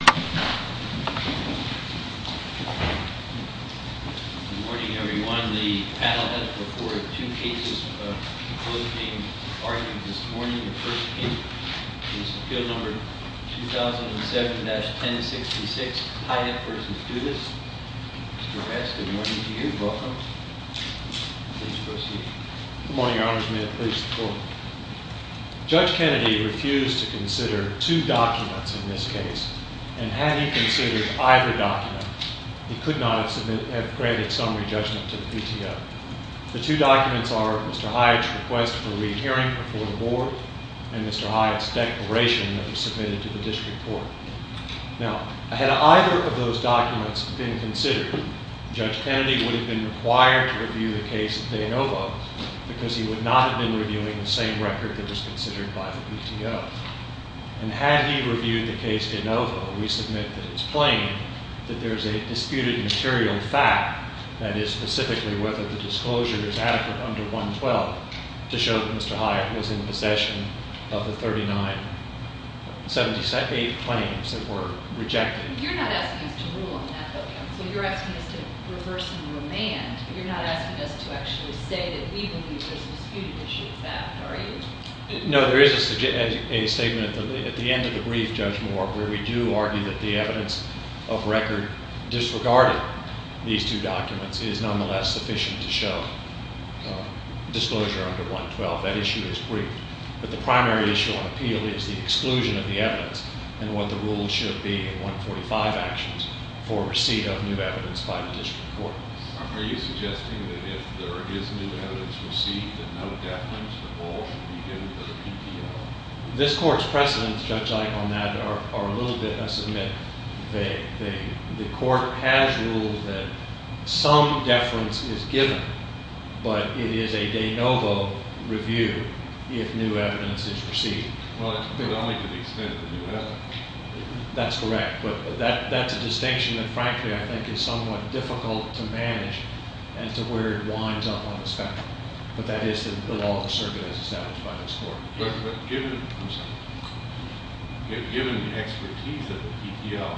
Good morning everyone. The panel has reported two cases of both being argued this morning. The first case is appeal number 2007-1066 Hyatt v. Dudas. Mr. Hatt, good morning to you. Welcome. Please proceed. Good morning, Your Honors. May it please the Court. Judge Kennedy refused to consider two documents in this case, and had he considered either document, he could not have granted summary judgment to the PTO. The two documents are Mr. Hyatt's request for re-hearing before the Board and Mr. Hyatt's declaration that was submitted to the District Court. Now, had either of those documents been considered, Judge Kennedy would have been required to review the case of De Novo because he would not have been reviewing the same record that was considered by the PTO. And had he reviewed the case De Novo, we submit that it's plain that there is a disputed material fact, that is, specifically whether the disclosure is adequate under 112, to show that Mr. Hyatt was in possession of the 3978 claims that were rejected. You're not asking us to rule on that, though, so you're asking us to reverse and remand. You're not asking us to actually say that we believe there's a disputed issue with that, are you? No, there is a statement at the end of the brief, Judge Moore, where we do argue that the evidence of record disregarded in these two documents is nonetheless sufficient to show disclosure under 112. That issue is briefed. But the primary issue on appeal is the exclusion of the evidence and what the rules should be in 145 actions for receipt of new evidence by the District Court. Are you suggesting that if there is new evidence received, that no deference at all should be given to the PTO? This court's precedents, Judge Ike, on that are a little bit, I submit, vague. The court has ruled that some deference is given, but it is a De Novo review if new evidence is received. Well, it's only to the extent of the new evidence. That's correct, but that's a distinction that, frankly, I think is somewhat difficult to manage and to where it winds up on the spectrum. But that is the law of the circuit as established by this court. But given the expertise of the PTO,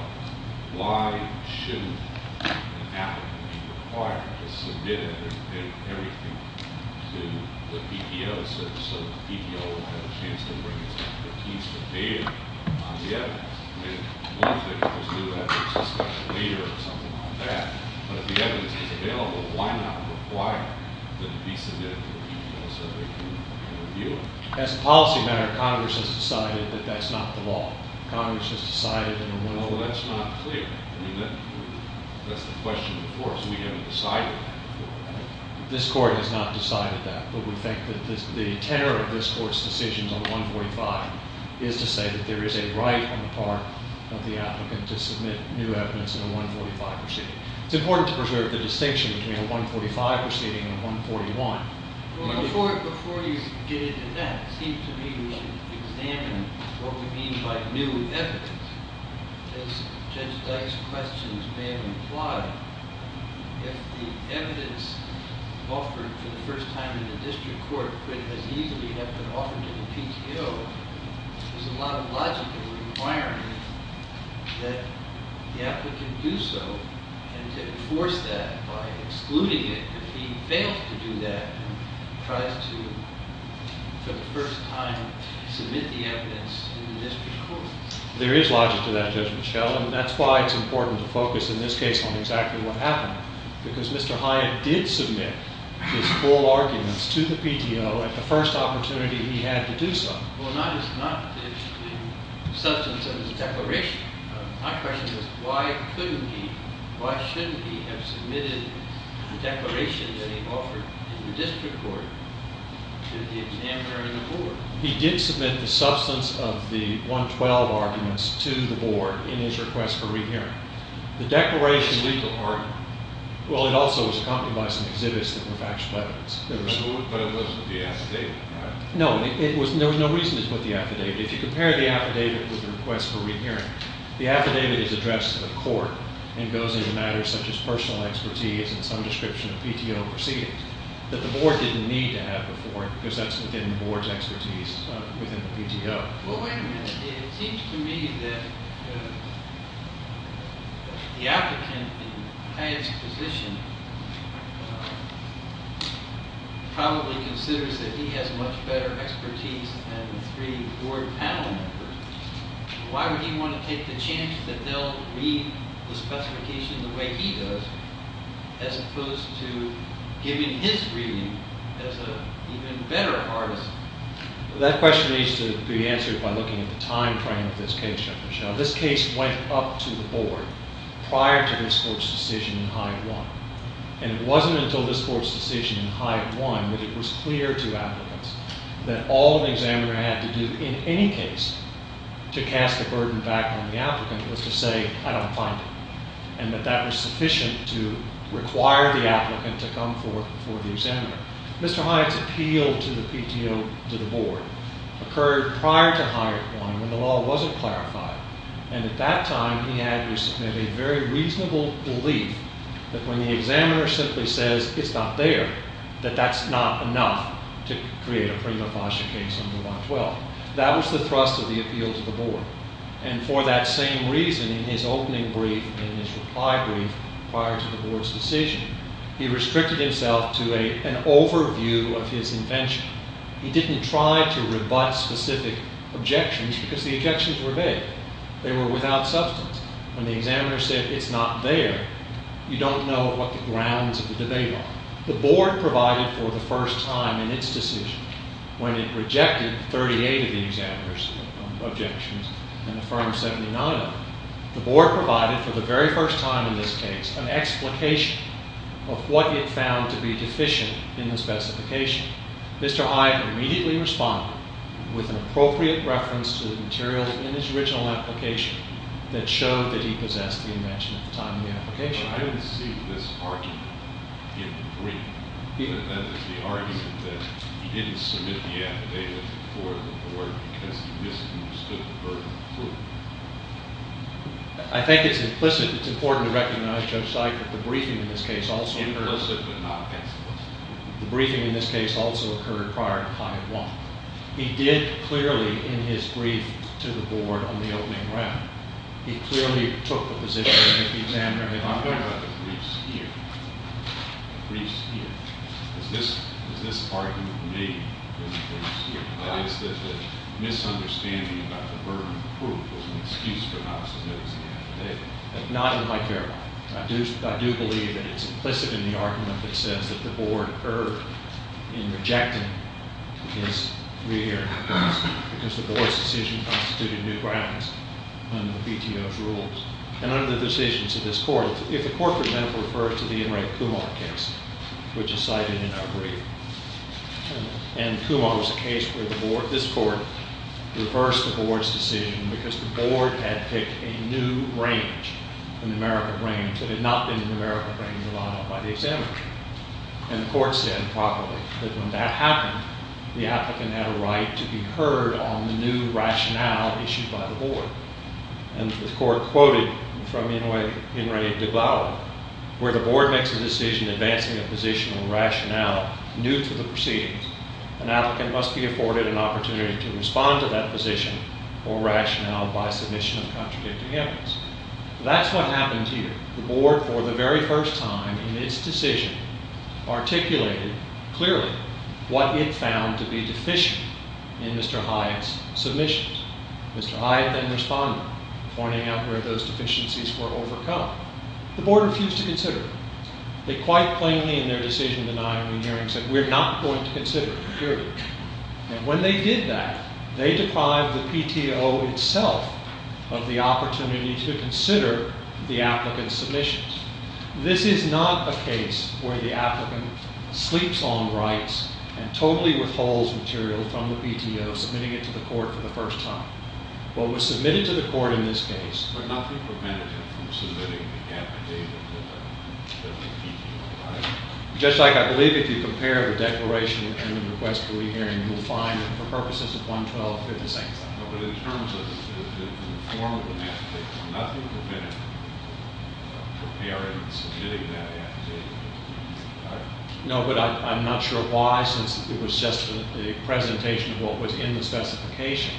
why shouldn't an applicant be required to submit everything to the PTO so that the PTO will have a chance to bring its expertise to data on the evidence? As a policy matter, Congress has decided that that's not the law. Congress has decided in the 145. Well, that's not clear. I mean, that's the question before us. We haven't decided that. This court has not decided that, but we think that the tenor of this court's decisions on the 145 is to say that there is a right on the part of the applicant to submit new evidence in a 145 proceeding. It's important to preserve the distinction between a 145 proceeding and a 141. Before you get into that, it seems to me we should examine what we mean by new evidence. As Judge Dyke's questions may have implied, if the evidence offered for the first time in the district court could as easily have been offered to the PTO, there's a lot of logic in requiring that the applicant do so and to enforce that by excluding it if he fails to do that and tries to, for the first time, submit the evidence in the district court. There is logic to that, Judge Michel. And that's why it's important to focus in this case on exactly what happened, because Mr. Hyatt did submit his full arguments to the PTO at the first opportunity he had to do so. Well, it's not the substance of his declaration. My question is, why couldn't he, why shouldn't he have submitted the declaration that he offered in the district court to the examiner and the board? He did submit the substance of the 112 arguments to the board in his request for re-hearing. The declaration… It was a legal argument. Well, it also was accompanied by some exhibits that were factual evidence. But it wasn't deacidated, right? No, there was no reason to put the affidavit. If you compare the affidavit with the request for re-hearing, the affidavit is addressed to the court and goes into matters such as personal expertise and some description of PTO proceedings that the board didn't need to have before, because that's within the board's expertise within the PTO. Well, wait a minute. It seems to me that the applicant in Hyatt's position probably considers that he has much better expertise than the three board panel members. Why would he want to take the chance that they'll read the specification the way he does, as opposed to giving his reading as an even better artist? That question needs to be answered by looking at the time frame of this case, Judge Michelle. This case went up to the board prior to this court's decision in Hyatt 1. And it wasn't until this court's decision in Hyatt 1 that it was clear to applicants that all the examiner had to do in any case to cast a burden back on the applicant was to say, I don't find it, and that that was sufficient to require the applicant to come forth before the examiner. Mr. Hyatt's appeal to the PTO, to the board, occurred prior to Hyatt 1 when the law wasn't clarified. And at that time, he had to submit a very reasonable belief that when the examiner simply says, it's not there, that that's not enough to create a prima facie case under 112. That was the thrust of the appeal to the board. And for that same reason, in his opening brief, in his reply brief prior to the board's decision, he restricted himself to an overview of his invention. He didn't try to rebut specific objections because the objections were vague. They were without substance. When the examiner said, it's not there, you don't know what the grounds of the debate are. The board provided for the first time in its decision, when it rejected 38 of the examiner's objections and affirmed 79 of them, the board provided for the very first time in this case an explication of what it found to be deficient in the specification. Mr. Hyatt immediately responded with an appropriate reference to the materials in his original application that showed that he possessed the invention at the time of the application. But I didn't see this argument in the brief. That is, the argument that he didn't submit the affidavit before the board because he misunderstood the burden of proof. I think it's implicit. It's important to recognize, Judge Sykes, that the briefing in this case also occurred prior to Hyatt won. He did clearly, in his brief to the board on the opening round, he clearly took the position that the examiner had offered. I'm talking about the briefs here. The briefs here. Is this argument made in the briefs here? That is, that the misunderstanding about the burden of proof was an excuse for not submitting the affidavit. Not in my paragraph. I do believe that it's implicit in the argument that says that the board erred in rejecting his re-hearing of proofs because the board's decision constituted new grounds under the BTO's rules. And under the decisions of this court, if the court for example refers to the Enright Kumar case, which is cited in our brief, and Kumar was a case where this court reversed the board's decision because the board had picked a new brain. A numerical brain that had not been a numerical brain relied on by the examiner. And the court said, probably, that when that happened, the applicant had a right to be heard on the new rationale issued by the board. And the court quoted from Enright de Blasio, where the board makes a decision advancing a position or rationale new to the proceedings, an applicant must be afforded an opportunity to respond to that position or rationale by submission of contradicting evidence. That's what happened here. The board, for the very first time in its decision, articulated clearly what it found to be deficient in Mr. Hyatt's submissions. Mr. Hyatt then responded, pointing out where those deficiencies were overcome. The board refused to consider it. They quite plainly, in their decision-denying hearing, said, we're not going to consider it, period. And when they did that, they deprived the PTO itself of the opportunity to consider the applicant's submissions. This is not a case where the applicant sleeps on rights and totally withholds material from the PTO, submitting it to the court for the first time. What was submitted to the court in this case- But nothing prevented him from submitting the affidavit with the PTO, right? Just like I believe if you compare the declaration and the request for re-hearing, you'll find that for purposes of 112, they're the same thing. No, but in terms of the form of the affidavit, nothing prevented him from preparing and submitting that affidavit. No, but I'm not sure why, since it was just a presentation of what was in the specification,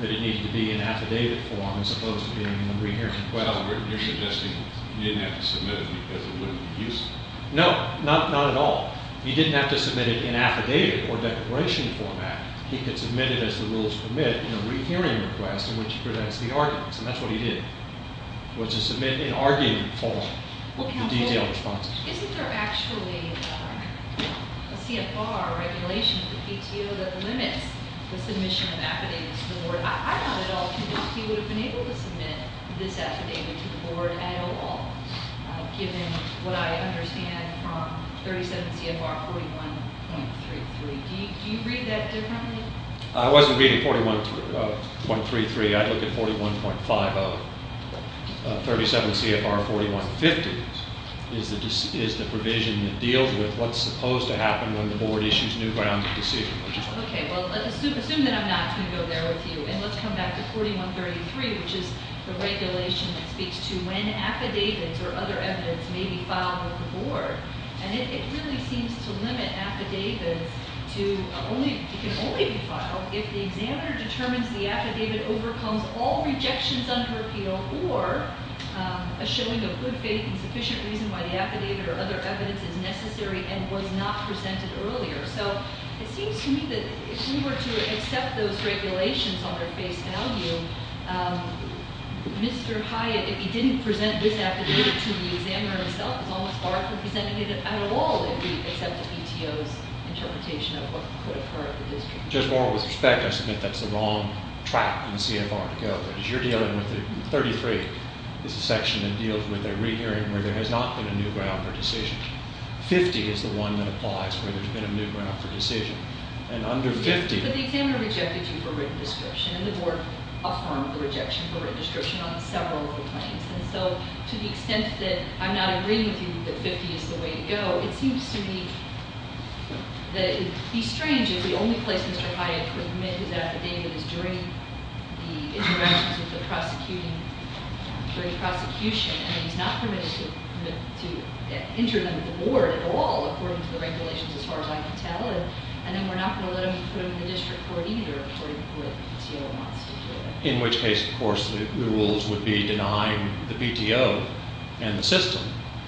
that it needed to be in affidavit form as opposed to being in a re-hearing request. So you're suggesting he didn't have to submit it because it wouldn't be useful? No, not at all. He didn't have to submit it in affidavit or declaration format. He could submit it as the rules permit in a re-hearing request in which he presents the arguments, and that's what he did, which is submit an argument form with detailed responses. Isn't there actually a CFR regulation for PTO that limits the submission of affidavits to the board? I'm not at all convinced he would have been able to submit this affidavit to the board at all, given what I understand from 37 CFR 41.33. Do you read that differently? I wasn't reading 41.33. I'd look at 41.50. 37 CFR 41.50 is the provision that deals with what's supposed to happen when the board issues new grounds of decision. Okay, well, assume that I'm not going to go there with you, and let's come back to 41.33, which is the regulation that speaks to when affidavits or other evidence may be filed with the board. And it really seems to limit affidavits to only be filed if the examiner determines the affidavit overcomes all rejections on her PTO or a showing of good faith and sufficient reason why the affidavit or other evidence is necessary and was not presented earlier. So it seems to me that if we were to accept those regulations on their face value, Mr. Hyatt, if he didn't present this affidavit to the examiner himself, it's almost far from presenting it at all if we accept the PTO's interpretation of what could occur at the district. Just more with respect, I submit that's the wrong track in CFR to go. As you're dealing with it, 33 is a section that deals with a rehearing where there has not been a new ground for decision. 50 is the one that applies where there's been a new ground for decision. But the examiner rejected you for written description, and the board affirmed the rejection for written description on several of the claims. And so to the extent that I'm not agreeing with you that 50 is the way to go, it seems to me that it would be strange if the only place Mr. Hyatt could admit his affidavit is during the interventions of the prosecuting, during the prosecution, and he's not permitted to inter them with the board at all according to the regulations as far as I can tell. And then we're not going to let him put him in the district court either according to what the PTO wants to do. In which case, of course, the rules would be denying the PTO and the system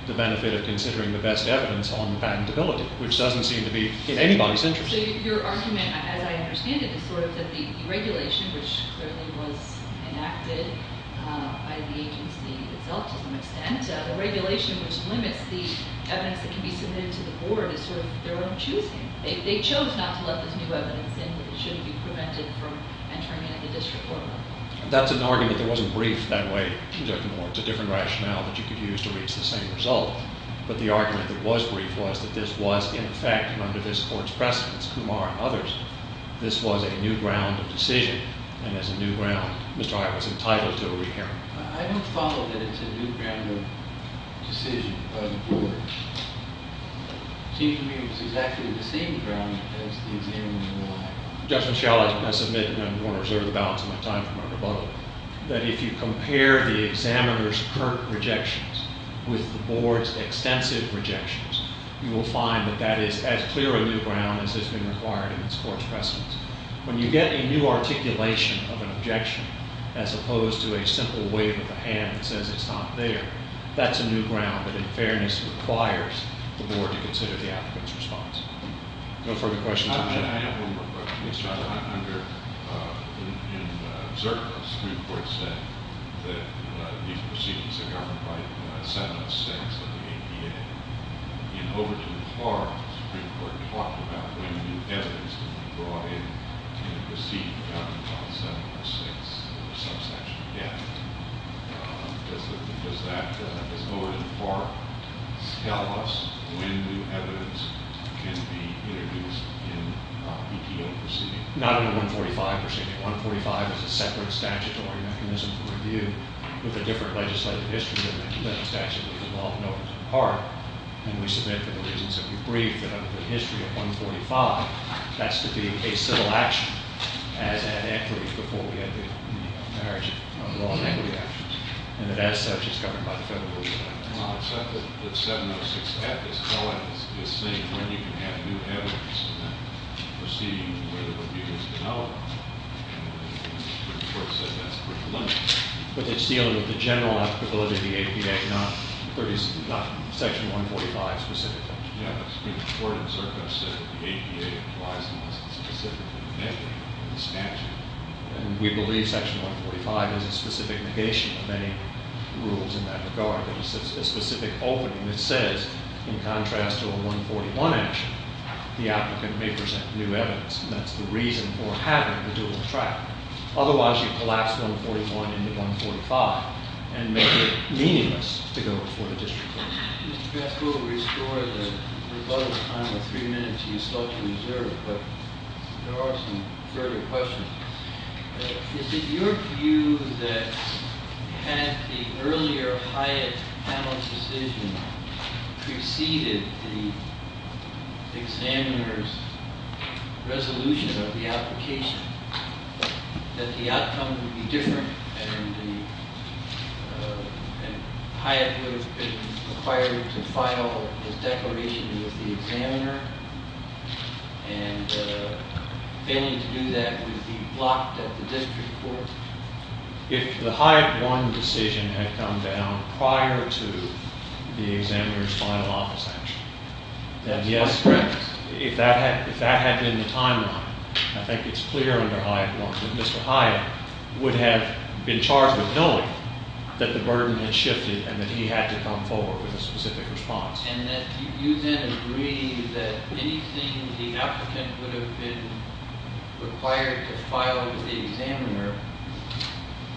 the benefit of considering the best evidence on patentability, which doesn't seem to be in anybody's interest. So your argument, as I understand it, is sort of that the regulation, which clearly was enacted by the agency itself to some extent, a regulation which limits the evidence that can be submitted to the board is sort of their own choosing. They chose not to let this new evidence in, but it shouldn't be prevented from entering into the district court. That's an argument that wasn't briefed that way, Judge Moore. It's a different rationale that you could use to reach the same result. But the argument that was briefed was that this was, in effect, under this court's precedence, Kumar and others, this was a new ground of decision. And as a new ground, Mr. Hyatt was entitled to a re-hearing. I don't follow that it's a new ground of decision by the board. It seems to me it was exactly the same ground as the examiner relied on. Justice Schall, I submit, and I'm going to reserve the balance of my time for my rebuttal, that if you compare the examiner's current rejections with the board's extensive rejections, you will find that that is as clear a new ground as has been required in this court's precedence. When you get a new articulation of an objection as opposed to a simple wave of the hand that says it's not there, that's a new ground that, in fairness, requires the board to consider the applicant's response. No further questions? Mr. Hyatt, I have one more question. Mr. Hyatt, under, in Zurich, the Supreme Court said that these proceedings are governed by 706 of the ADA. In Overton Park, the Supreme Court talked about when new evidence can be brought in in a proceeding governed by 706 of a subsection of debt. Does that, as noted in Park, tell us when new evidence can be introduced in an EPO proceeding? Not under 145 proceeding. 145 is a separate statutory mechanism for review with a different legislative history than the statute of Overton Park. And we submit for the reasons that we've briefed that under the history of 145, that's to be a civil action as an equity before we have the marriage of law and equity actions. And as such, it's governed by the federal law. Well, it's not that 706 of this code is saying when you can have new evidence in that proceeding where the review is developed. And the Supreme Court said that's pretty limited. But it's dealing with the general applicability of the ADA, not section 145 specifically. Yeah, the Supreme Court in Circo said the ADA applies unless it's specifically negated in this statute. And we believe section 145 is a specific negation of any rules in that regard. It's a specific opening that says, in contrast to a 141 action, the applicant may present new evidence. And that's the reason for having the dual track. Otherwise, you collapse 141 into 145 and make it meaningless to go before the district court. Mr. Gaskill, to restore the rebuttal time of three minutes, you still have to reserve. But there are some further questions. Is it your view that had the earlier Hyatt panel decision preceded the examiner's resolution of the application, that the outcome would be different? And Hyatt would have been required to file his declaration with the examiner. And failing to do that would be blocked at the district court. If the Hyatt 1 decision had come down prior to the examiner's final office action, then yes. That's correct. If that had been the timeline, I think it's clear under Hyatt 1 that Mr. Hyatt would have been charged with knowing that the burden had shifted and that he had to come forward with a specific response. And that you then agree that anything the applicant would have been required to file with the examiner,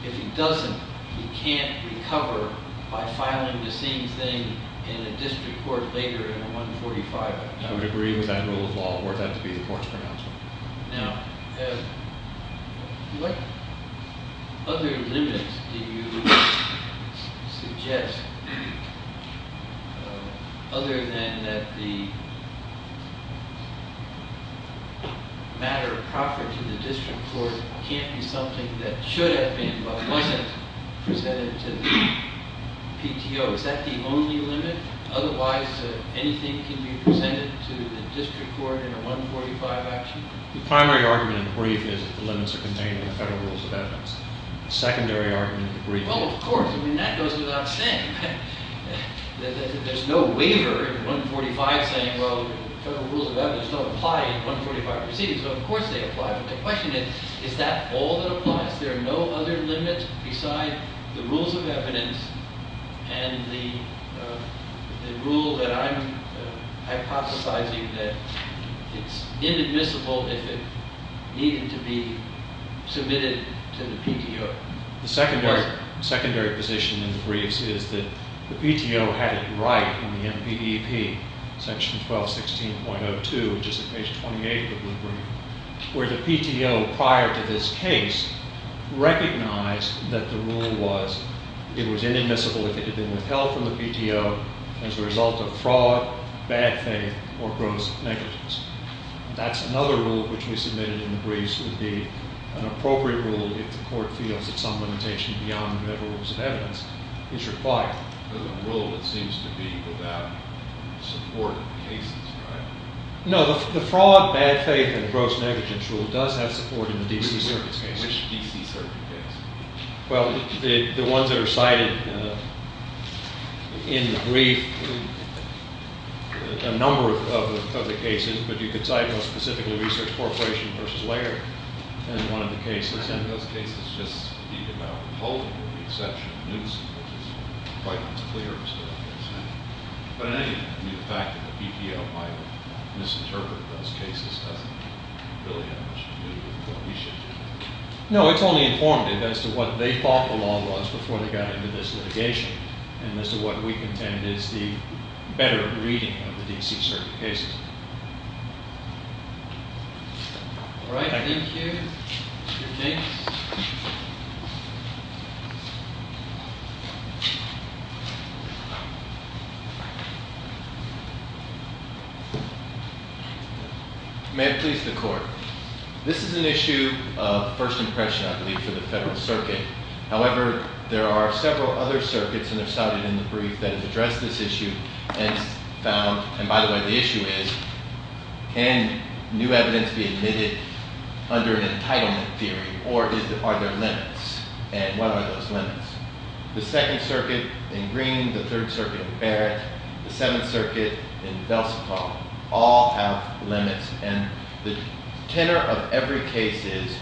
if he doesn't, he can't recover by filing the same thing in a district court later in 145. I would agree with that rule of law, for that to be the court's pronouncement. Now, what other limits do you suggest? Other than that the matter proper to the district court can't be something that should have been but wasn't presented to the PTO. Is that the only limit? Otherwise, anything can be presented to the district court in a 145 action? The primary argument in the brief is that the limits are contained in the Federal Rules of Evidence. The secondary argument in the brief is- Well, of course. I mean, that goes without saying. There's no waiver in 145 saying, well, the Federal Rules of Evidence don't apply in 145 proceedings. Of course they apply. But the question is, is that all that applies? There are no other limits besides the Rules of Evidence and the rule that I'm hypothesizing that it's inadmissible if it needed to be submitted to the PTO. The secondary position in the briefs is that the PTO had it right in the NBEP, section 1216.02, which is at page 28 of the brief, where the PTO, prior to this case, recognized that the rule was it was inadmissible if it had been withheld from the PTO as a result of fraud, bad faith, or gross negligence. That's another rule which we submitted in the briefs would be an appropriate rule if the court feels that some limitation beyond the Federal Rules of Evidence is required. There's a rule that seems to be without support in the cases, right? No, the fraud, bad faith, and gross negligence rule does have support in the D.C. Circuit's cases. Which D.C. Circuit cases? Well, the ones that are cited in the brief, a number of the cases, but you could cite most specifically Research Corporation v. Laird in one of the cases. And those cases just speak about withholding with the exception of Newsom, which is quite clear. But in any event, the fact that the PTO might misinterpret those cases doesn't really have much to do with what we should do. No, it's only informative as to what they thought the law was before they got into this litigation. And as to what we contend is the better reading of the D.C. Circuit cases. All right, thank you. Your case? May it please the Court. This is an issue of first impression, I believe, for the Federal Circuit. However, there are several other circuits, and they're cited in the brief, that have addressed this issue. And found, and by the way, the issue is, can new evidence be admitted under an entitlement theory? Or are there limits? And what are those limits? The Second Circuit in Green, the Third Circuit in Barrett, the Seventh Circuit in Belsakar, all have limits. And the tenor of every case is,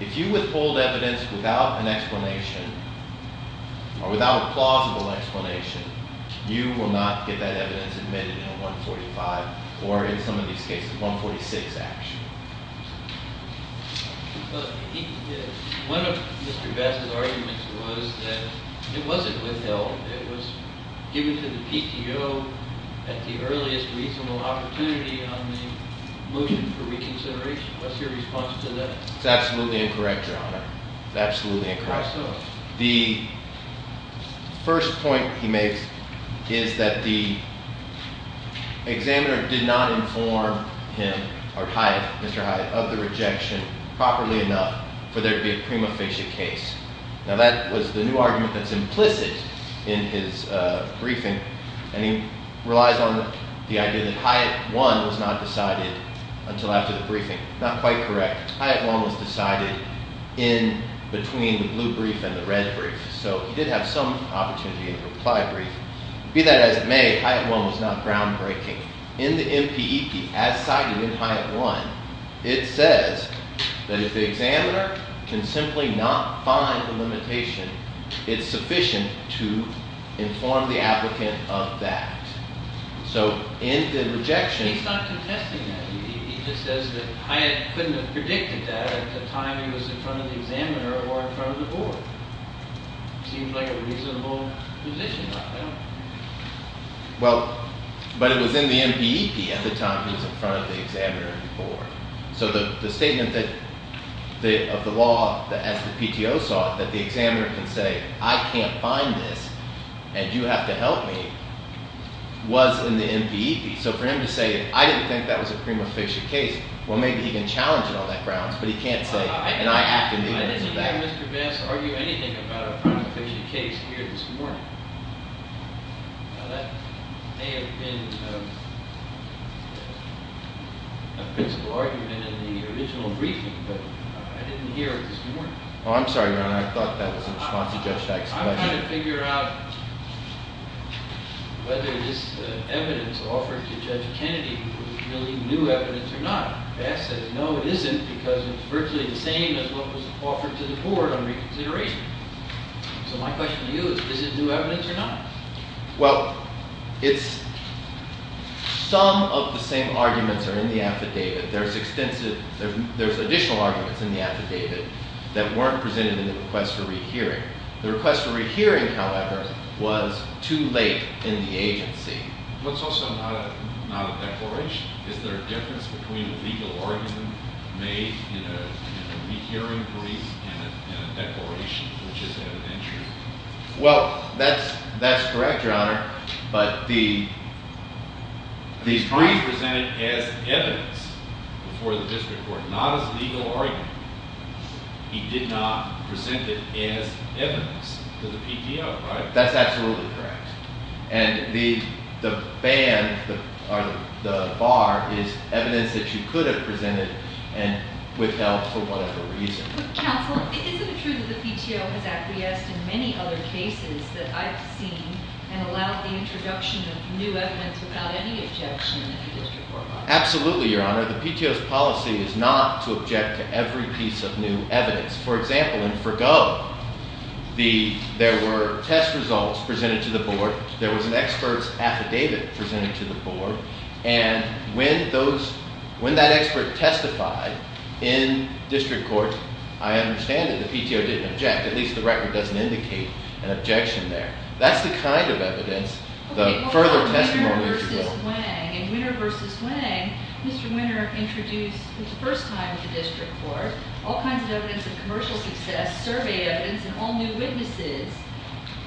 if you withhold evidence without an explanation, or without a plausible explanation, you will not get that evidence admitted in a 145, or in some of these cases, 146 action. One of Mr. Best's arguments was that it wasn't withheld. It was given to the PTO at the earliest reasonable opportunity on the motion for reconsideration. What's your response to that? It's absolutely incorrect, Your Honor. It's absolutely incorrect. So? The first point he makes is that the examiner did not inform him, or Hyatt, Mr. Hyatt, of the rejection properly enough for there to be a prima facie case. Now that was the new argument that's implicit in his briefing. And he relies on the idea that Hyatt 1 was not decided until after the briefing. Not quite correct. Hyatt 1 was decided in between the blue brief and the red brief. So he did have some opportunity in the reply brief. Be that as it may, Hyatt 1 was not groundbreaking. In the MPEP as cited in Hyatt 1, it says that if the examiner can simply not find the limitation, it's sufficient to inform the applicant of that. So in the rejection- He's not contesting that. He just says that Hyatt couldn't have predicted that at the time he was in front of the examiner or in front of the board. Seems like a reasonable position. Well, but it was in the MPEP at the time he was in front of the examiner and the board. So the statement of the law, as the PTO saw it, that the examiner can say, I can't find this and you have to help me, was in the MPEP. So for him to say, I didn't think that was a prima facie case, well, maybe he can challenge it on that grounds, but he can't say, and I have to- I didn't hear Mr. Bass argue anything about a prima facie case here this morning. Now, that may have been a principle argument in the original briefing, but I didn't hear it this morning. Oh, I'm sorry, Your Honor. I thought that was in response to Judge Dykes' question. I'm trying to figure out whether this evidence offered to Judge Kennedy was really new evidence or not. Bass says, no, it isn't, because it's virtually the same as what was offered to the board on reconsideration. So my question to you is, is it new evidence or not? Well, it's- some of the same arguments are in the affidavit. There's extensive- there's additional arguments in the affidavit that weren't presented in the request for rehearing. The request for rehearing, however, was too late in the agency. But it's also not a declaration. Is there a difference between a legal argument made in a rehearing brief and a declaration, which is evidentiary? Well, that's correct, Your Honor, but the- The brief was presented as evidence before the district court, not as a legal argument. He did not present it as evidence to the PTO, right? That's absolutely correct. And the band, or the bar, is evidence that you could have presented and withheld for whatever reason. Counsel, isn't it true that the PTO has acquiesced in many other cases that I've seen and allowed the introduction of new evidence without any objection in the district court? Absolutely, Your Honor. The PTO's policy is not to object to every piece of new evidence. For example, in Forgo, the- there were test results presented to the board. There was an expert's affidavit presented to the board. And when those- when that expert testified in district court, I understand that the PTO didn't object. At least the record doesn't indicate an objection there. That's the kind of evidence the further testimony is required. In Winner v. Wang, Mr. Winner introduced for the first time to district court all kinds of evidence of commercial success, survey evidence, and all new witnesses.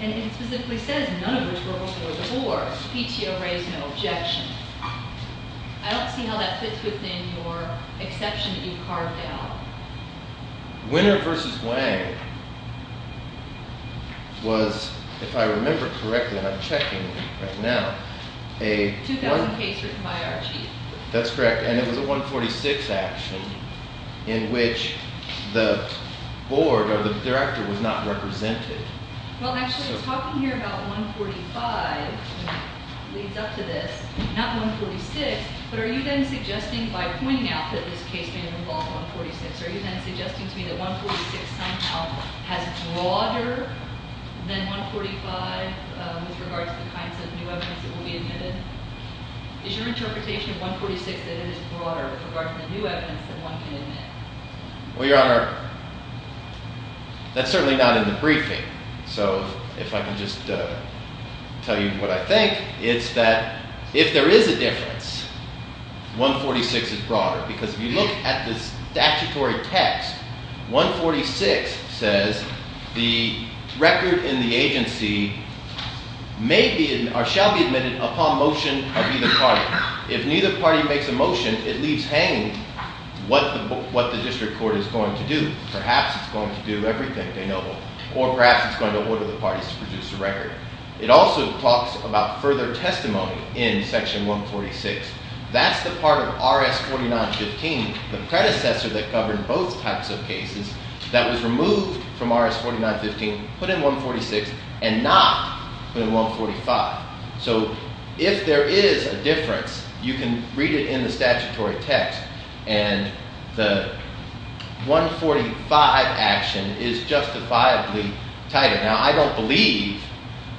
And it specifically says none of which were before the board. The PTO raised no objection. I don't see how that fits within your exception that you've carved out. Winner v. Wang was, if I remember correctly, and I'm checking right now, a- It's a 2000 case written by our chief. That's correct. And it was a 146 action in which the board or the director was not represented. Well, actually, talking here about 145 leads up to this. Not 146, but are you then suggesting by pointing out that this case may have involved 146, are you then suggesting to me that 146 somehow has broader than 145 with regard to the kinds of new evidence that will be admitted? Is your interpretation of 146 that it is broader with regard to the new evidence that one can admit? Well, Your Honor, that's certainly not in the briefing. So if I can just tell you what I think, it's that if there is a difference, 146 is broader. Because if you look at the statutory text, 146 says the record in the agency may be or shall be admitted upon motion of either party. If neither party makes a motion, it leaves hanging what the district court is going to do. Perhaps it's going to do everything, or perhaps it's going to order the parties to produce a record. It also talks about further testimony in Section 146. That's the part of RS 4915, the predecessor that covered both types of cases, that was removed from RS 4915, put in 146, and not put in 145. So if there is a difference, you can read it in the statutory text, and the 145 action is justifiably titled. Now, I don't believe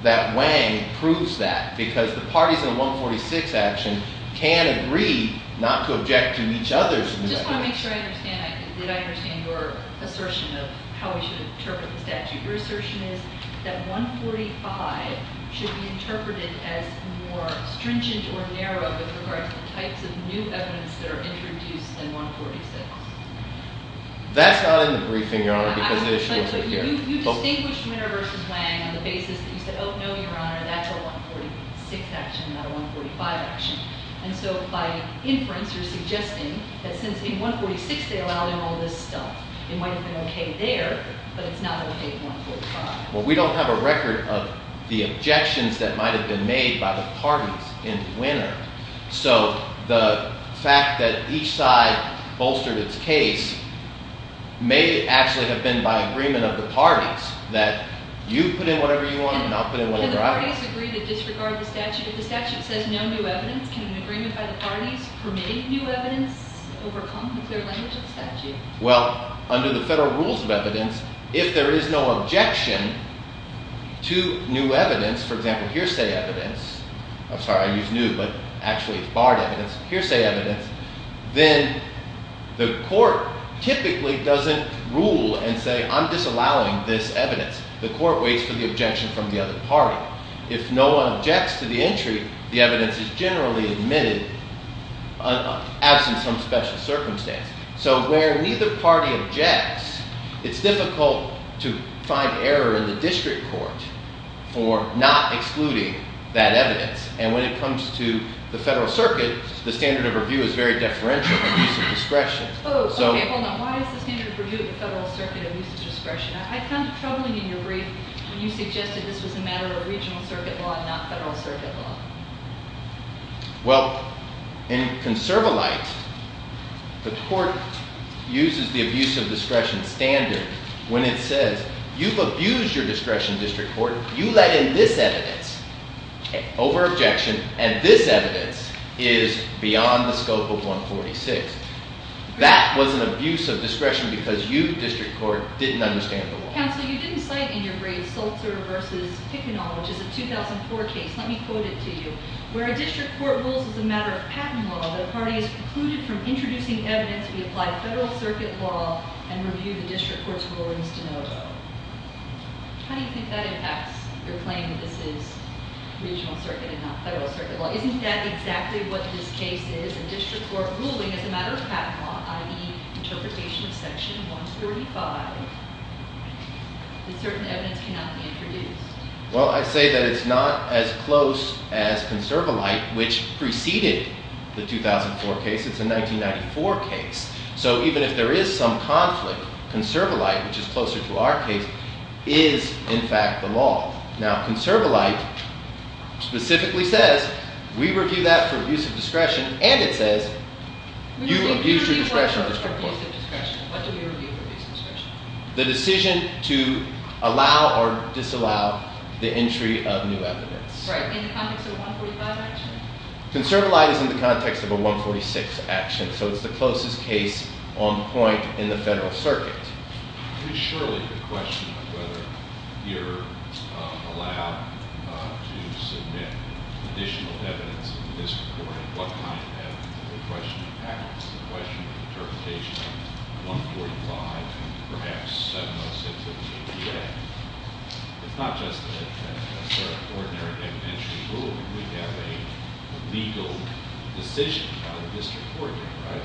that Wang proves that, because the parties in the 146 action can agree not to object to each other's objection. I just want to make sure I understand. Did I understand your assertion of how we should interpret the statute? Your assertion is that 145 should be interpreted as more stringent or narrow with regard to the types of new evidence that are introduced in 146. That's not in the briefing, Your Honor, because the issue isn't here. But you distinguished Winner v. Wang on the basis that you said, oh, no, Your Honor, that's a 146 action, not a 145 action. And so by inference, you're suggesting that since in 146 they allowed him all this stuff, it might have been okay there, but it's not okay in 145. Well, we don't have a record of the objections that might have been made by the parties in Winner. So the fact that each side bolstered its case may actually have been by agreement of the parties that you put in whatever you want and I'll put in whatever I want. Can the parties agree to disregard the statute? If the statute says no new evidence, can an agreement by the parties permit new evidence overcome with their language of the statute? Well, under the federal rules of evidence, if there is no objection to new evidence, for example, hearsay evidence. I'm sorry, I used new, but actually it's barred evidence, hearsay evidence. Then the court typically doesn't rule and say, I'm disallowing this evidence. The court waits for the objection from the other party. If no one objects to the entry, the evidence is generally admitted absent some special circumstance. So where neither party objects, it's difficult to find error in the district court for not excluding that evidence. And when it comes to the federal circuit, the standard of review is very deferential to use of discretion. Oh, okay, hold on. Why is the standard of review of the federal circuit of use of discretion? I found it troubling in your brief when you suggested this was a matter of regional circuit law and not federal circuit law. Well, in conserva light, the court uses the abuse of discretion standard. When it says you've abused your discretion district court, you let in this evidence over objection. And this evidence is beyond the scope of 146. That was an abuse of discretion because you district court didn't understand the law. Counsel, you didn't cite in your brief Sulzer versus Picanol, which is a 2004 case. Let me quote it to you. Where a district court rules as a matter of patent law, the party is precluded from introducing evidence to be applied federal circuit law and review the district court's rulings de novo. How do you think that impacts your claim that this is regional circuit and not federal circuit law? Isn't that exactly what this case is? A district court ruling is a matter of patent law, i.e. interpretation of section 135. Certain evidence cannot be introduced. Well, I say that it's not as close as conserva light, which preceded the 2004 case. It's a 1994 case. So even if there is some conflict, conserva light, which is closer to our case, is in fact the law. Now, conserva light specifically says we review that for abuse of discretion, and it says you abuse your discretion. What do we review for abuse of discretion? The decision to allow or disallow the entry of new evidence. Right. In the context of a 145 action? Conserva light is in the context of a 146 action. So it's the closest case on point in the federal circuit. It's pretty surely a question of whether you're allowed to submit additional evidence to the district court. What kind of evidence? It's a question of patent. It's a question of interpretation of 145 and perhaps 706 of the ADA. It's not just an ordinary evidentiary ruling. We have a legal decision by the district court here, right?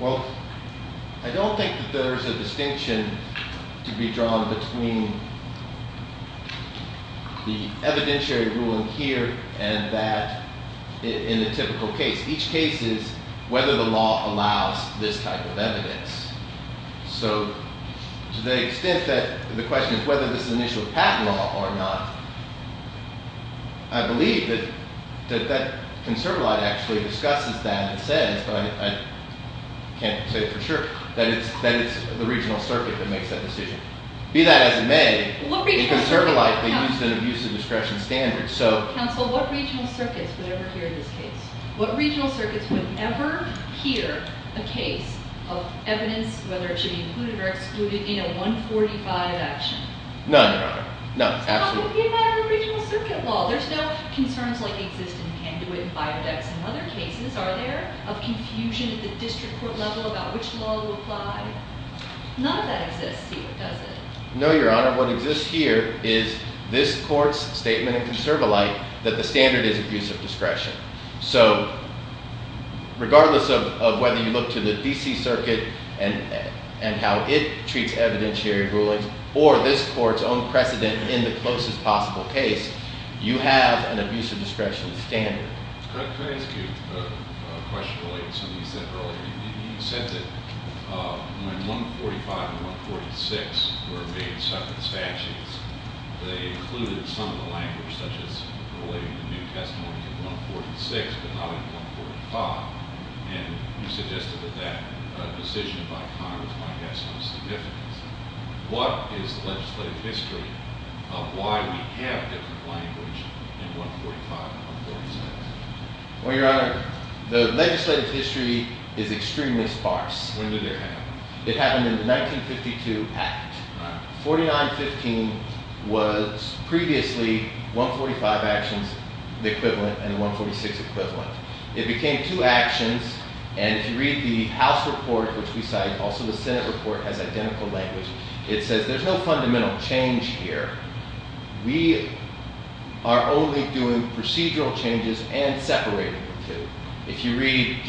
Well, I don't think that there is a distinction to be drawn between the evidentiary ruling here and that in a typical case. Each case is whether the law allows this type of evidence. So to the extent that the question is whether this is an initial patent law or not, I believe that that conserva light actually discusses that and says, but I can't say for sure, that it's the regional circuit that makes that decision. Be that as it may, in conserva light they used an abuse of discretion standard. Counsel, what regional circuits would ever hear this case? What regional circuits would ever hear a case of evidence, whether it should be included or excluded, in a 145 action? None, Your Honor. None, absolutely. It's not going to be about a regional circuit law. There's no concerns like exist in Panduit and Biodex and other cases, are there? Of confusion at the district court level about which law will apply? None of that exists here, does it? No, Your Honor. What exists here is this court's statement in conserva light that the standard is abuse of discretion. So regardless of whether you look to the DC circuit and how it treats evidentiary rulings or this court's own precedent in the closest possible case, you have an abuse of discretion standard. Could I ask you a question related to something you said earlier? You said that when 145 and 146 were made separate statutes, they included some of the language, such as relating the new testimony to 146 but not in 145, and you suggested that that decision by Congress might have some significance. What is the legislative history of why we have different language in 145 and 146? Well, Your Honor, the legislative history is extremely sparse. When did it happen? It happened in the 1952 act. 4915 was previously 145 actions, the equivalent, and 146 equivalent. It became two actions, and if you read the House report, which we cited, also the Senate report has identical language. It says there's no fundamental change here. We are only doing procedural changes and separating the two. If you read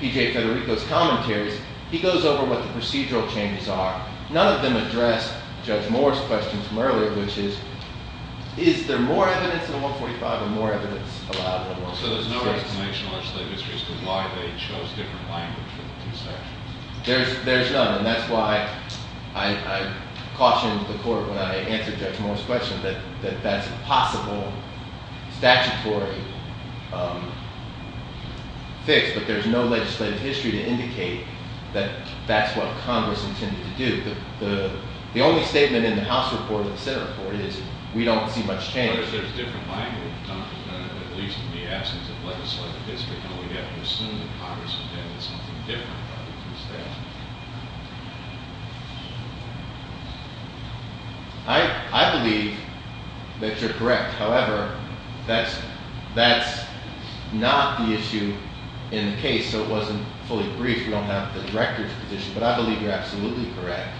P.J. Federico's commentaries, he goes over what the procedural changes are. None of them address Judge Moore's question from earlier, which is, is there more evidence in 145 and more evidence allowed in 146? So there's no explanation in the legislative history as to why they chose different language for the two sections? There's none, and that's why I cautioned the Court when I answered Judge Moore's question, that that's a possible statutory fix, but there's no legislative history to indicate that that's what Congress intended to do. The only statement in the House report and the Senate report is we don't see much change. But if there's different language, at least in the absence of legislative history, then we'd have to assume that Congress intended something different about the two sections. I believe that you're correct. However, that's not the issue in the case, so it wasn't fully brief. We don't have the Director's position, but I believe you're absolutely correct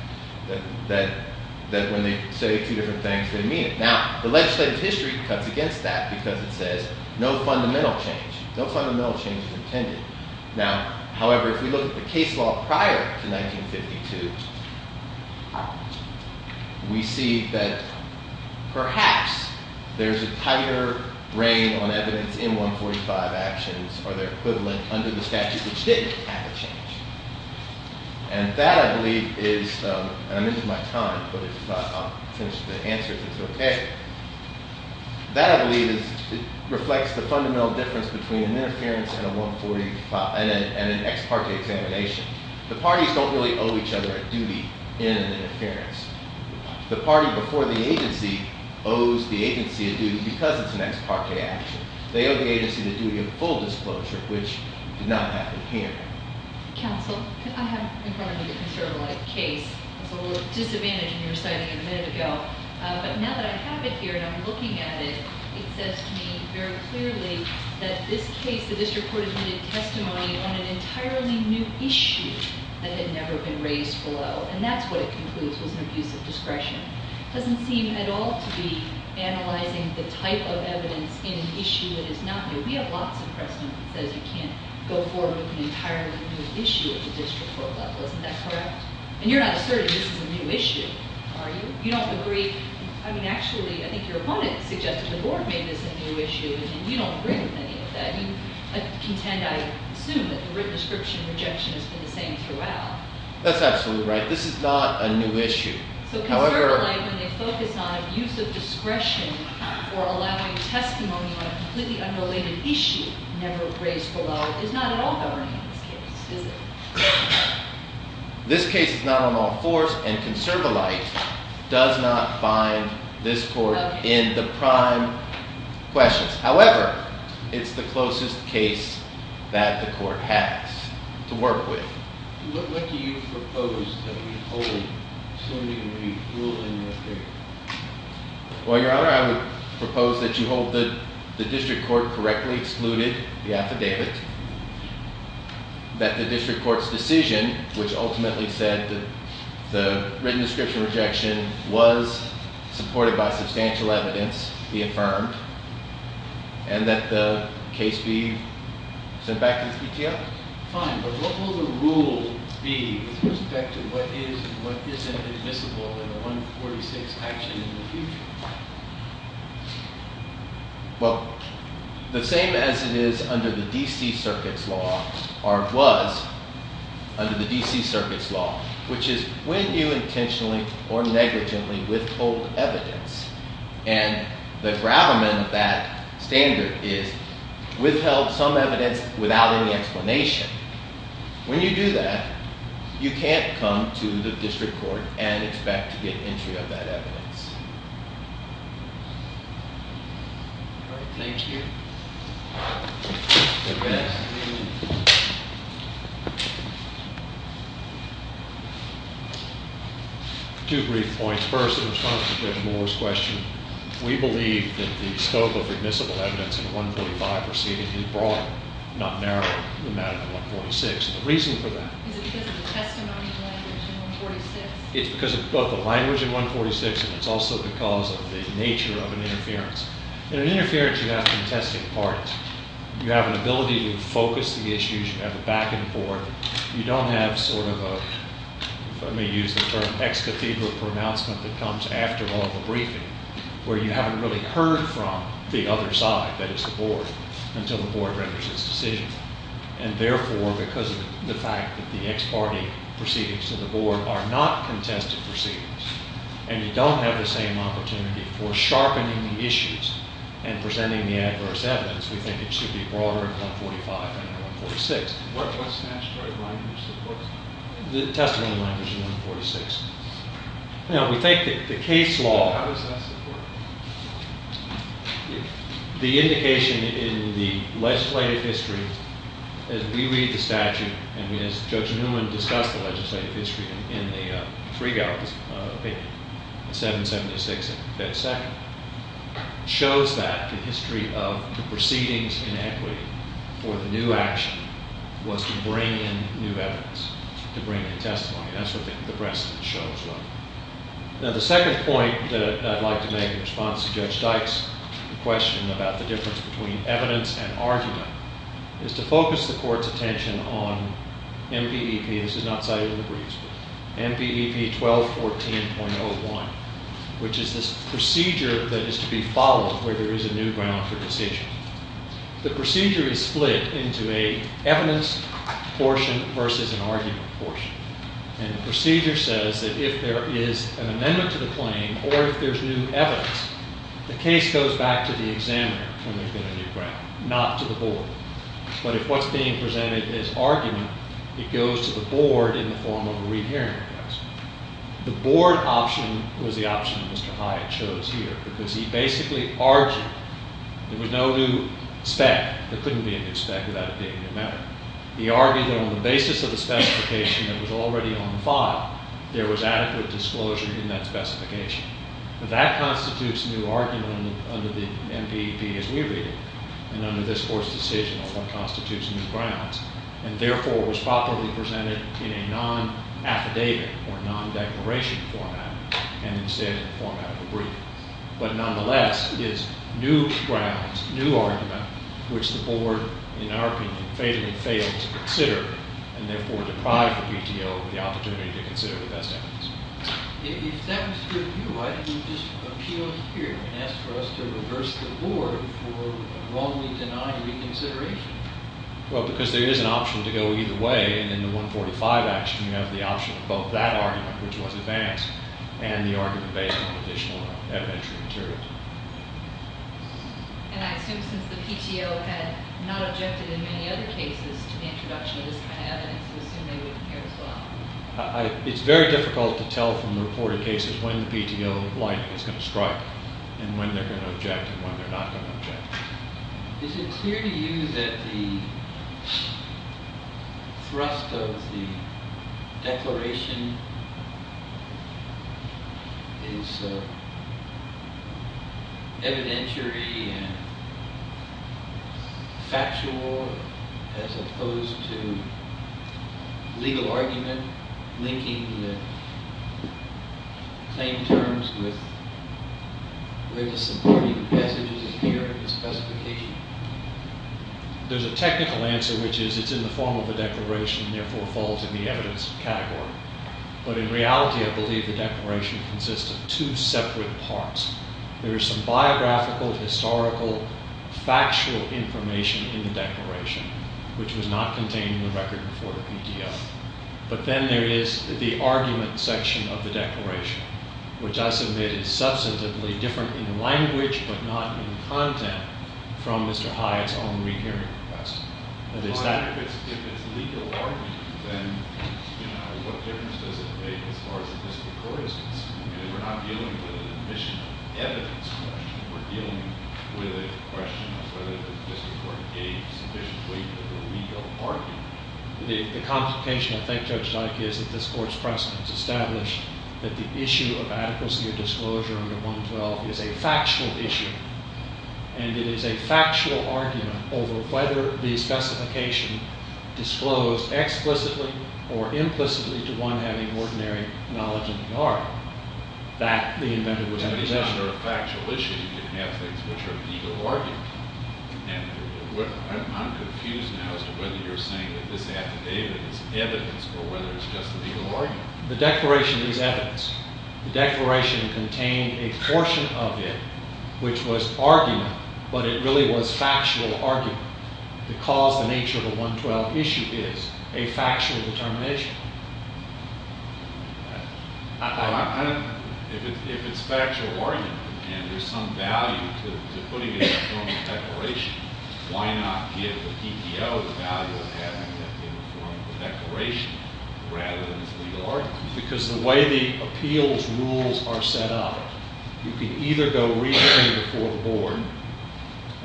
that when they say two different things, they mean it. Now, the legislative history cuts against that because it says no fundamental change. No fundamental change was intended. Now, however, if we look at the case law prior to 1952, we see that perhaps there's a tighter rein on evidence in 145 actions or their equivalent under the statute which didn't have a change. And that, I believe, is – and I'm into my time, but I'll finish the answer if it's okay – that, I believe, reflects the fundamental difference between an interference and an ex parte examination. The parties don't really owe each other a duty in an interference. The party before the agency owes the agency a duty because it's an ex parte action. They owe the agency the duty of full disclosure, which did not happen here. Counsel, I have in front of me a conservative-like case. There was a little disadvantage in your citing a minute ago. But now that I have it here and I'm looking at it, it says to me very clearly that this case, that this report has made a testimony on an entirely new issue that had never been raised below. And that's what it concludes was an abuse of discretion. It doesn't seem at all to be analyzing the type of evidence in an issue that is not new. We have lots of precedent that says you can't go forward with an entirely new issue at the district court level. Isn't that correct? And you're not asserting this is a new issue, are you? You don't agree – I mean, actually, I think your opponent suggested the board made this a new issue, and you don't agree with any of that. You contend, I assume, that the written description and rejection has been the same throughout. That's absolutely right. This is not a new issue. So ConservAlight, when they focus on abuse of discretion or allowing testimony on a completely unrelated issue never raised below, is not at all governing in this case, is it? This case is not on all fours, and ConservAlight does not bind this court in the prime questions. However, it's the closest case that the court has to work with. What do you propose that we hold, assuming we rule in this case? Well, Your Honor, I would propose that you hold that the district court correctly excluded the affidavit, that the district court's decision, which ultimately said that the written description and rejection was supported by substantial evidence, be affirmed, and that the case be sent back to the CTF. Fine, but what will the rule be with respect to what is and what isn't admissible in the 146 action in the future? Well, the same as it is under the D.C. Circuit's law, or was under the D.C. Circuit's law, which is when you intentionally or negligently withhold evidence, and the gravamen of that standard is withheld some evidence without any explanation. When you do that, you can't come to the district court and expect to get entry of that evidence. All right, thank you. Two brief points. First, in response to Judge Moore's question, we believe that the scope of admissible evidence in 145 proceeding is broad, not narrow, in the matter of 146. The reason for that- Is it because of the testimony in language in 146? It's because of both the language in 146, and it's also because of the nature of an interference. In an interference, you have contested parties. You have an ability to focus the issues. You have a back and forth. You don't have sort of a- let me use the term- ex cathedral pronouncement that comes after all the briefing, where you haven't really heard from the other side, that is the board, until the board renders its decision. And therefore, because of the fact that the ex parte proceedings to the board are not contested proceedings, and you don't have the same opportunity for sharpening the issues and presenting the adverse evidence, we think it should be broader in 145 than in 146. What statutory language supports that? The testimony language in 146. Now, we think that the case law- How does that support it? The indication in the legislative history, as we read the statute, and as Judge Newman discussed the legislative history in the Friegel opinion, 776 and 5th section, shows that the history of the proceedings in equity for the new action was to bring in new evidence, to bring in testimony. That's what the precedent shows. Now, the second point that I'd like to make in response to Judge Dyke's question about the difference between evidence and argument is to focus the court's attention on MVEP. This is not cited in the briefs, but MVEP 1214.01, which is this procedure that is to be followed where there is a new ground for decision. The procedure is split into an evidence portion versus an argument portion. And the procedure says that if there is an amendment to the claim or if there's new evidence, the case goes back to the examiner when there's been a new ground, not to the board. But if what's being presented is argument, it goes to the board in the form of a rehearing request. The board option was the option Mr. Hyatt chose here because he basically argued there was no new spec. There couldn't be a new spec without it being a new method. He argued that on the basis of the specification that was already on the file, there was adequate disclosure in that specification. That constitutes new argument under the MVEP as we read it, and under this court's decision on what constitutes new grounds, and therefore was properly presented in a non-affidavit or non-declaration format, and instead in the format of a brief. But nonetheless, it's new grounds, new argument, which the board, in our opinion, fatally failed to consider and therefore deprived the PTO of the opportunity to consider the best evidence. If that was your view, why didn't you just appeal here and ask for us to reverse the board for a wrongly denied reconsideration? Well, because there is an option to go either way, and in the 145 action, you have the option of both that argument, which was advanced, and the argument based on additional evidentiary material. And I assume since the PTO had not objected in many other cases to the introduction of this kind of evidence, you assume they wouldn't care as well. It's very difficult to tell from the reported cases when the PTO line is going to strike and when they're going to object and when they're not going to object. Is it clear to you that the thrust of the declaration is evidentiary and factual as opposed to legal argument linking the claim terms with where the supporting messages appear in the specification? There's a technical answer, which is it's in the form of a declaration and therefore falls in the evidence category. But in reality, I believe the declaration consists of two separate parts. There is some biographical, historical, factual information in the declaration, which was not contained in the record before the PTO. But then there is the argument section of the declaration, which I submit is substantively different in language but not in content from Mr. Hyatt's own rehearing request. If it's legal argument, then what difference does it make as far as the district court is concerned? We're not dealing with an admission of evidence question. We're dealing with a question of whether the district court gave sufficiently of a legal argument. The complication, I think, Judge Dikey, is that this Court's precedence established that the issue of adequacy of disclosure under 112 is a factual issue. And it is a factual argument over whether the specification disclosed explicitly or implicitly to one having ordinary knowledge in the art. That, the inventor would have said. But it's not a factual issue if you have things which are legal arguments. And I'm confused now as to whether you're saying that this affidavit is evidence or whether it's just a legal argument. The declaration is evidence. The declaration contained a portion of it which was argument, but it really was factual argument because the nature of a 112 issue is a factual determination. If it's factual argument and there's some value to putting it in the form of declaration, why not give the PTO the value of having it in the form of a declaration rather than as legal argument? Because the way the appeals rules are set up, you can either go re-hearing before the Board,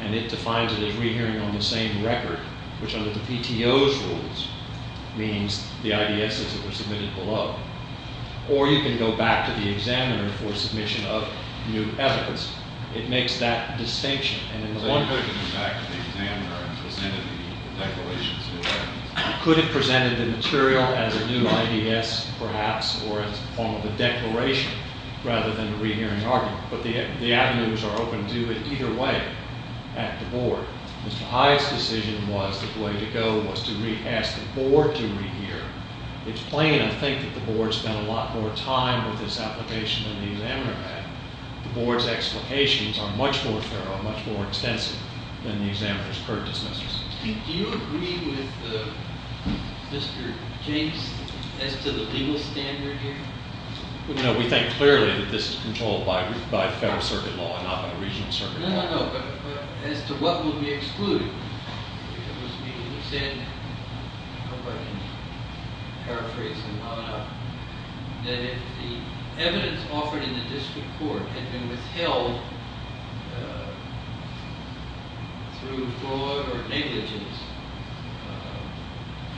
and it defines it as re-hearing on the same record, which under the PTO's rules means the IDSs that were submitted below. Or you can go back to the examiner for submission of new evidence. It makes that distinction. And in one way... Could have taken it back to the examiner and presented the declarations as evidence. Could have presented the material as a new IDS, perhaps, or as a form of a declaration rather than a re-hearing argument. But the avenues are open to it either way at the Board. Mr. Hyde's decision was that the way to go was to ask the Board to re-hear. It's plain, I think, that the Board spent a lot more time with this application than the examiner had. The Board's explications are much more thorough, much more extensive than the examiner's court dismissals. Do you agree with Mr. James as to the legal standard here? No, we think clearly that this is controlled by federal circuit law and not by the regional circuit law. No, no, no, but as to what will be excluded. It must be understandable, if I can paraphrase him well enough, that if the evidence offered in the district court had been withheld through fraud or negligence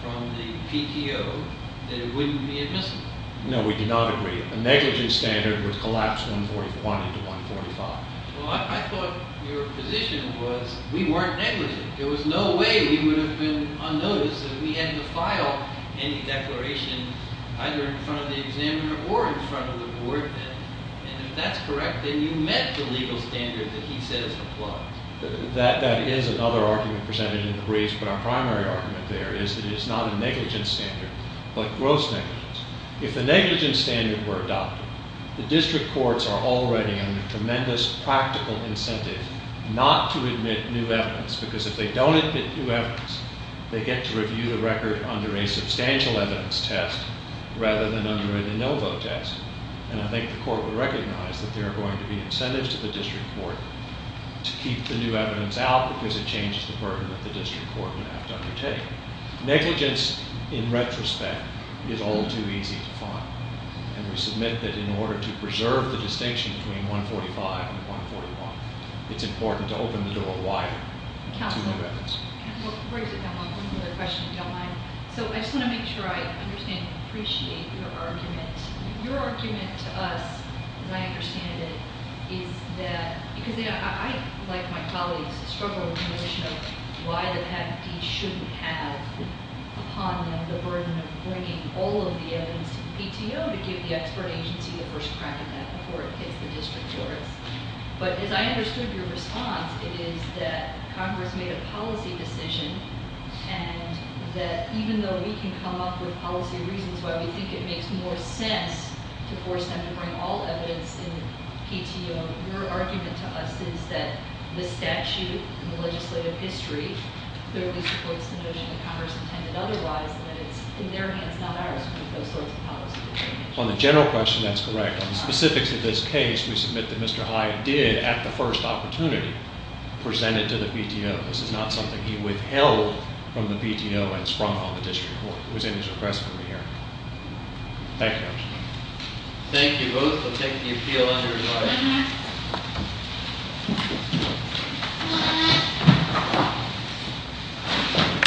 from the PTO, that it wouldn't be admissible. No, we do not agree. A negligence standard would collapse 141 into 145. Well, I thought your position was we weren't negligent. There was no way we would have been unnoticed if we had to file any declaration either in front of the examiner or in front of the Board. And if that's correct, then you met the legal standard that he says applies. That is another argument presented in the briefs, but our primary argument there is that it is not a negligence standard, but gross negligence. If the negligence standard were adopted, the district courts are already under tremendous practical incentive not to admit new evidence, because if they don't admit new evidence, they get to review the record under a substantial evidence test rather than under a de novo test. And I think the court will recognize that there are going to be incentives to the district court to keep the new evidence out because it changes the burden that the district court would have to undertake. Negligence, in retrospect, is all too easy to find. And we submit that in order to preserve the distinction between 145 and 141, it's important to open the door wider to new evidence. Counselor? Well, where is it, Delma? One other question, Delma. So I just want to make sure I understand and appreciate your argument. Your argument to us, as I understand it, is that, because I, like my colleagues, struggle with the notion of why the patent piece shouldn't have upon them the burden of bringing all of the evidence to the PTO to give the expert agency the first crack at that before it hits the district courts. But as I understood your response, it is that Congress made a policy decision and that even though we can come up with policy reasons why we think it makes more sense to force them to bring all evidence in the PTO, your argument to us is that the statute and the legislative history clearly supports the notion that Congress intended otherwise and that it's, in their hands, not ours to make those sorts of policy decisions. On the general question, that's correct. On the specifics of this case, we submit that Mr. Hyatt did, at the first opportunity, present it to the PTO. This is not something he withheld from the PTO and sprung on the district court. It was in his request for me to hear. Thank you, Your Honor. Thank you both for taking the appeal under your discretion.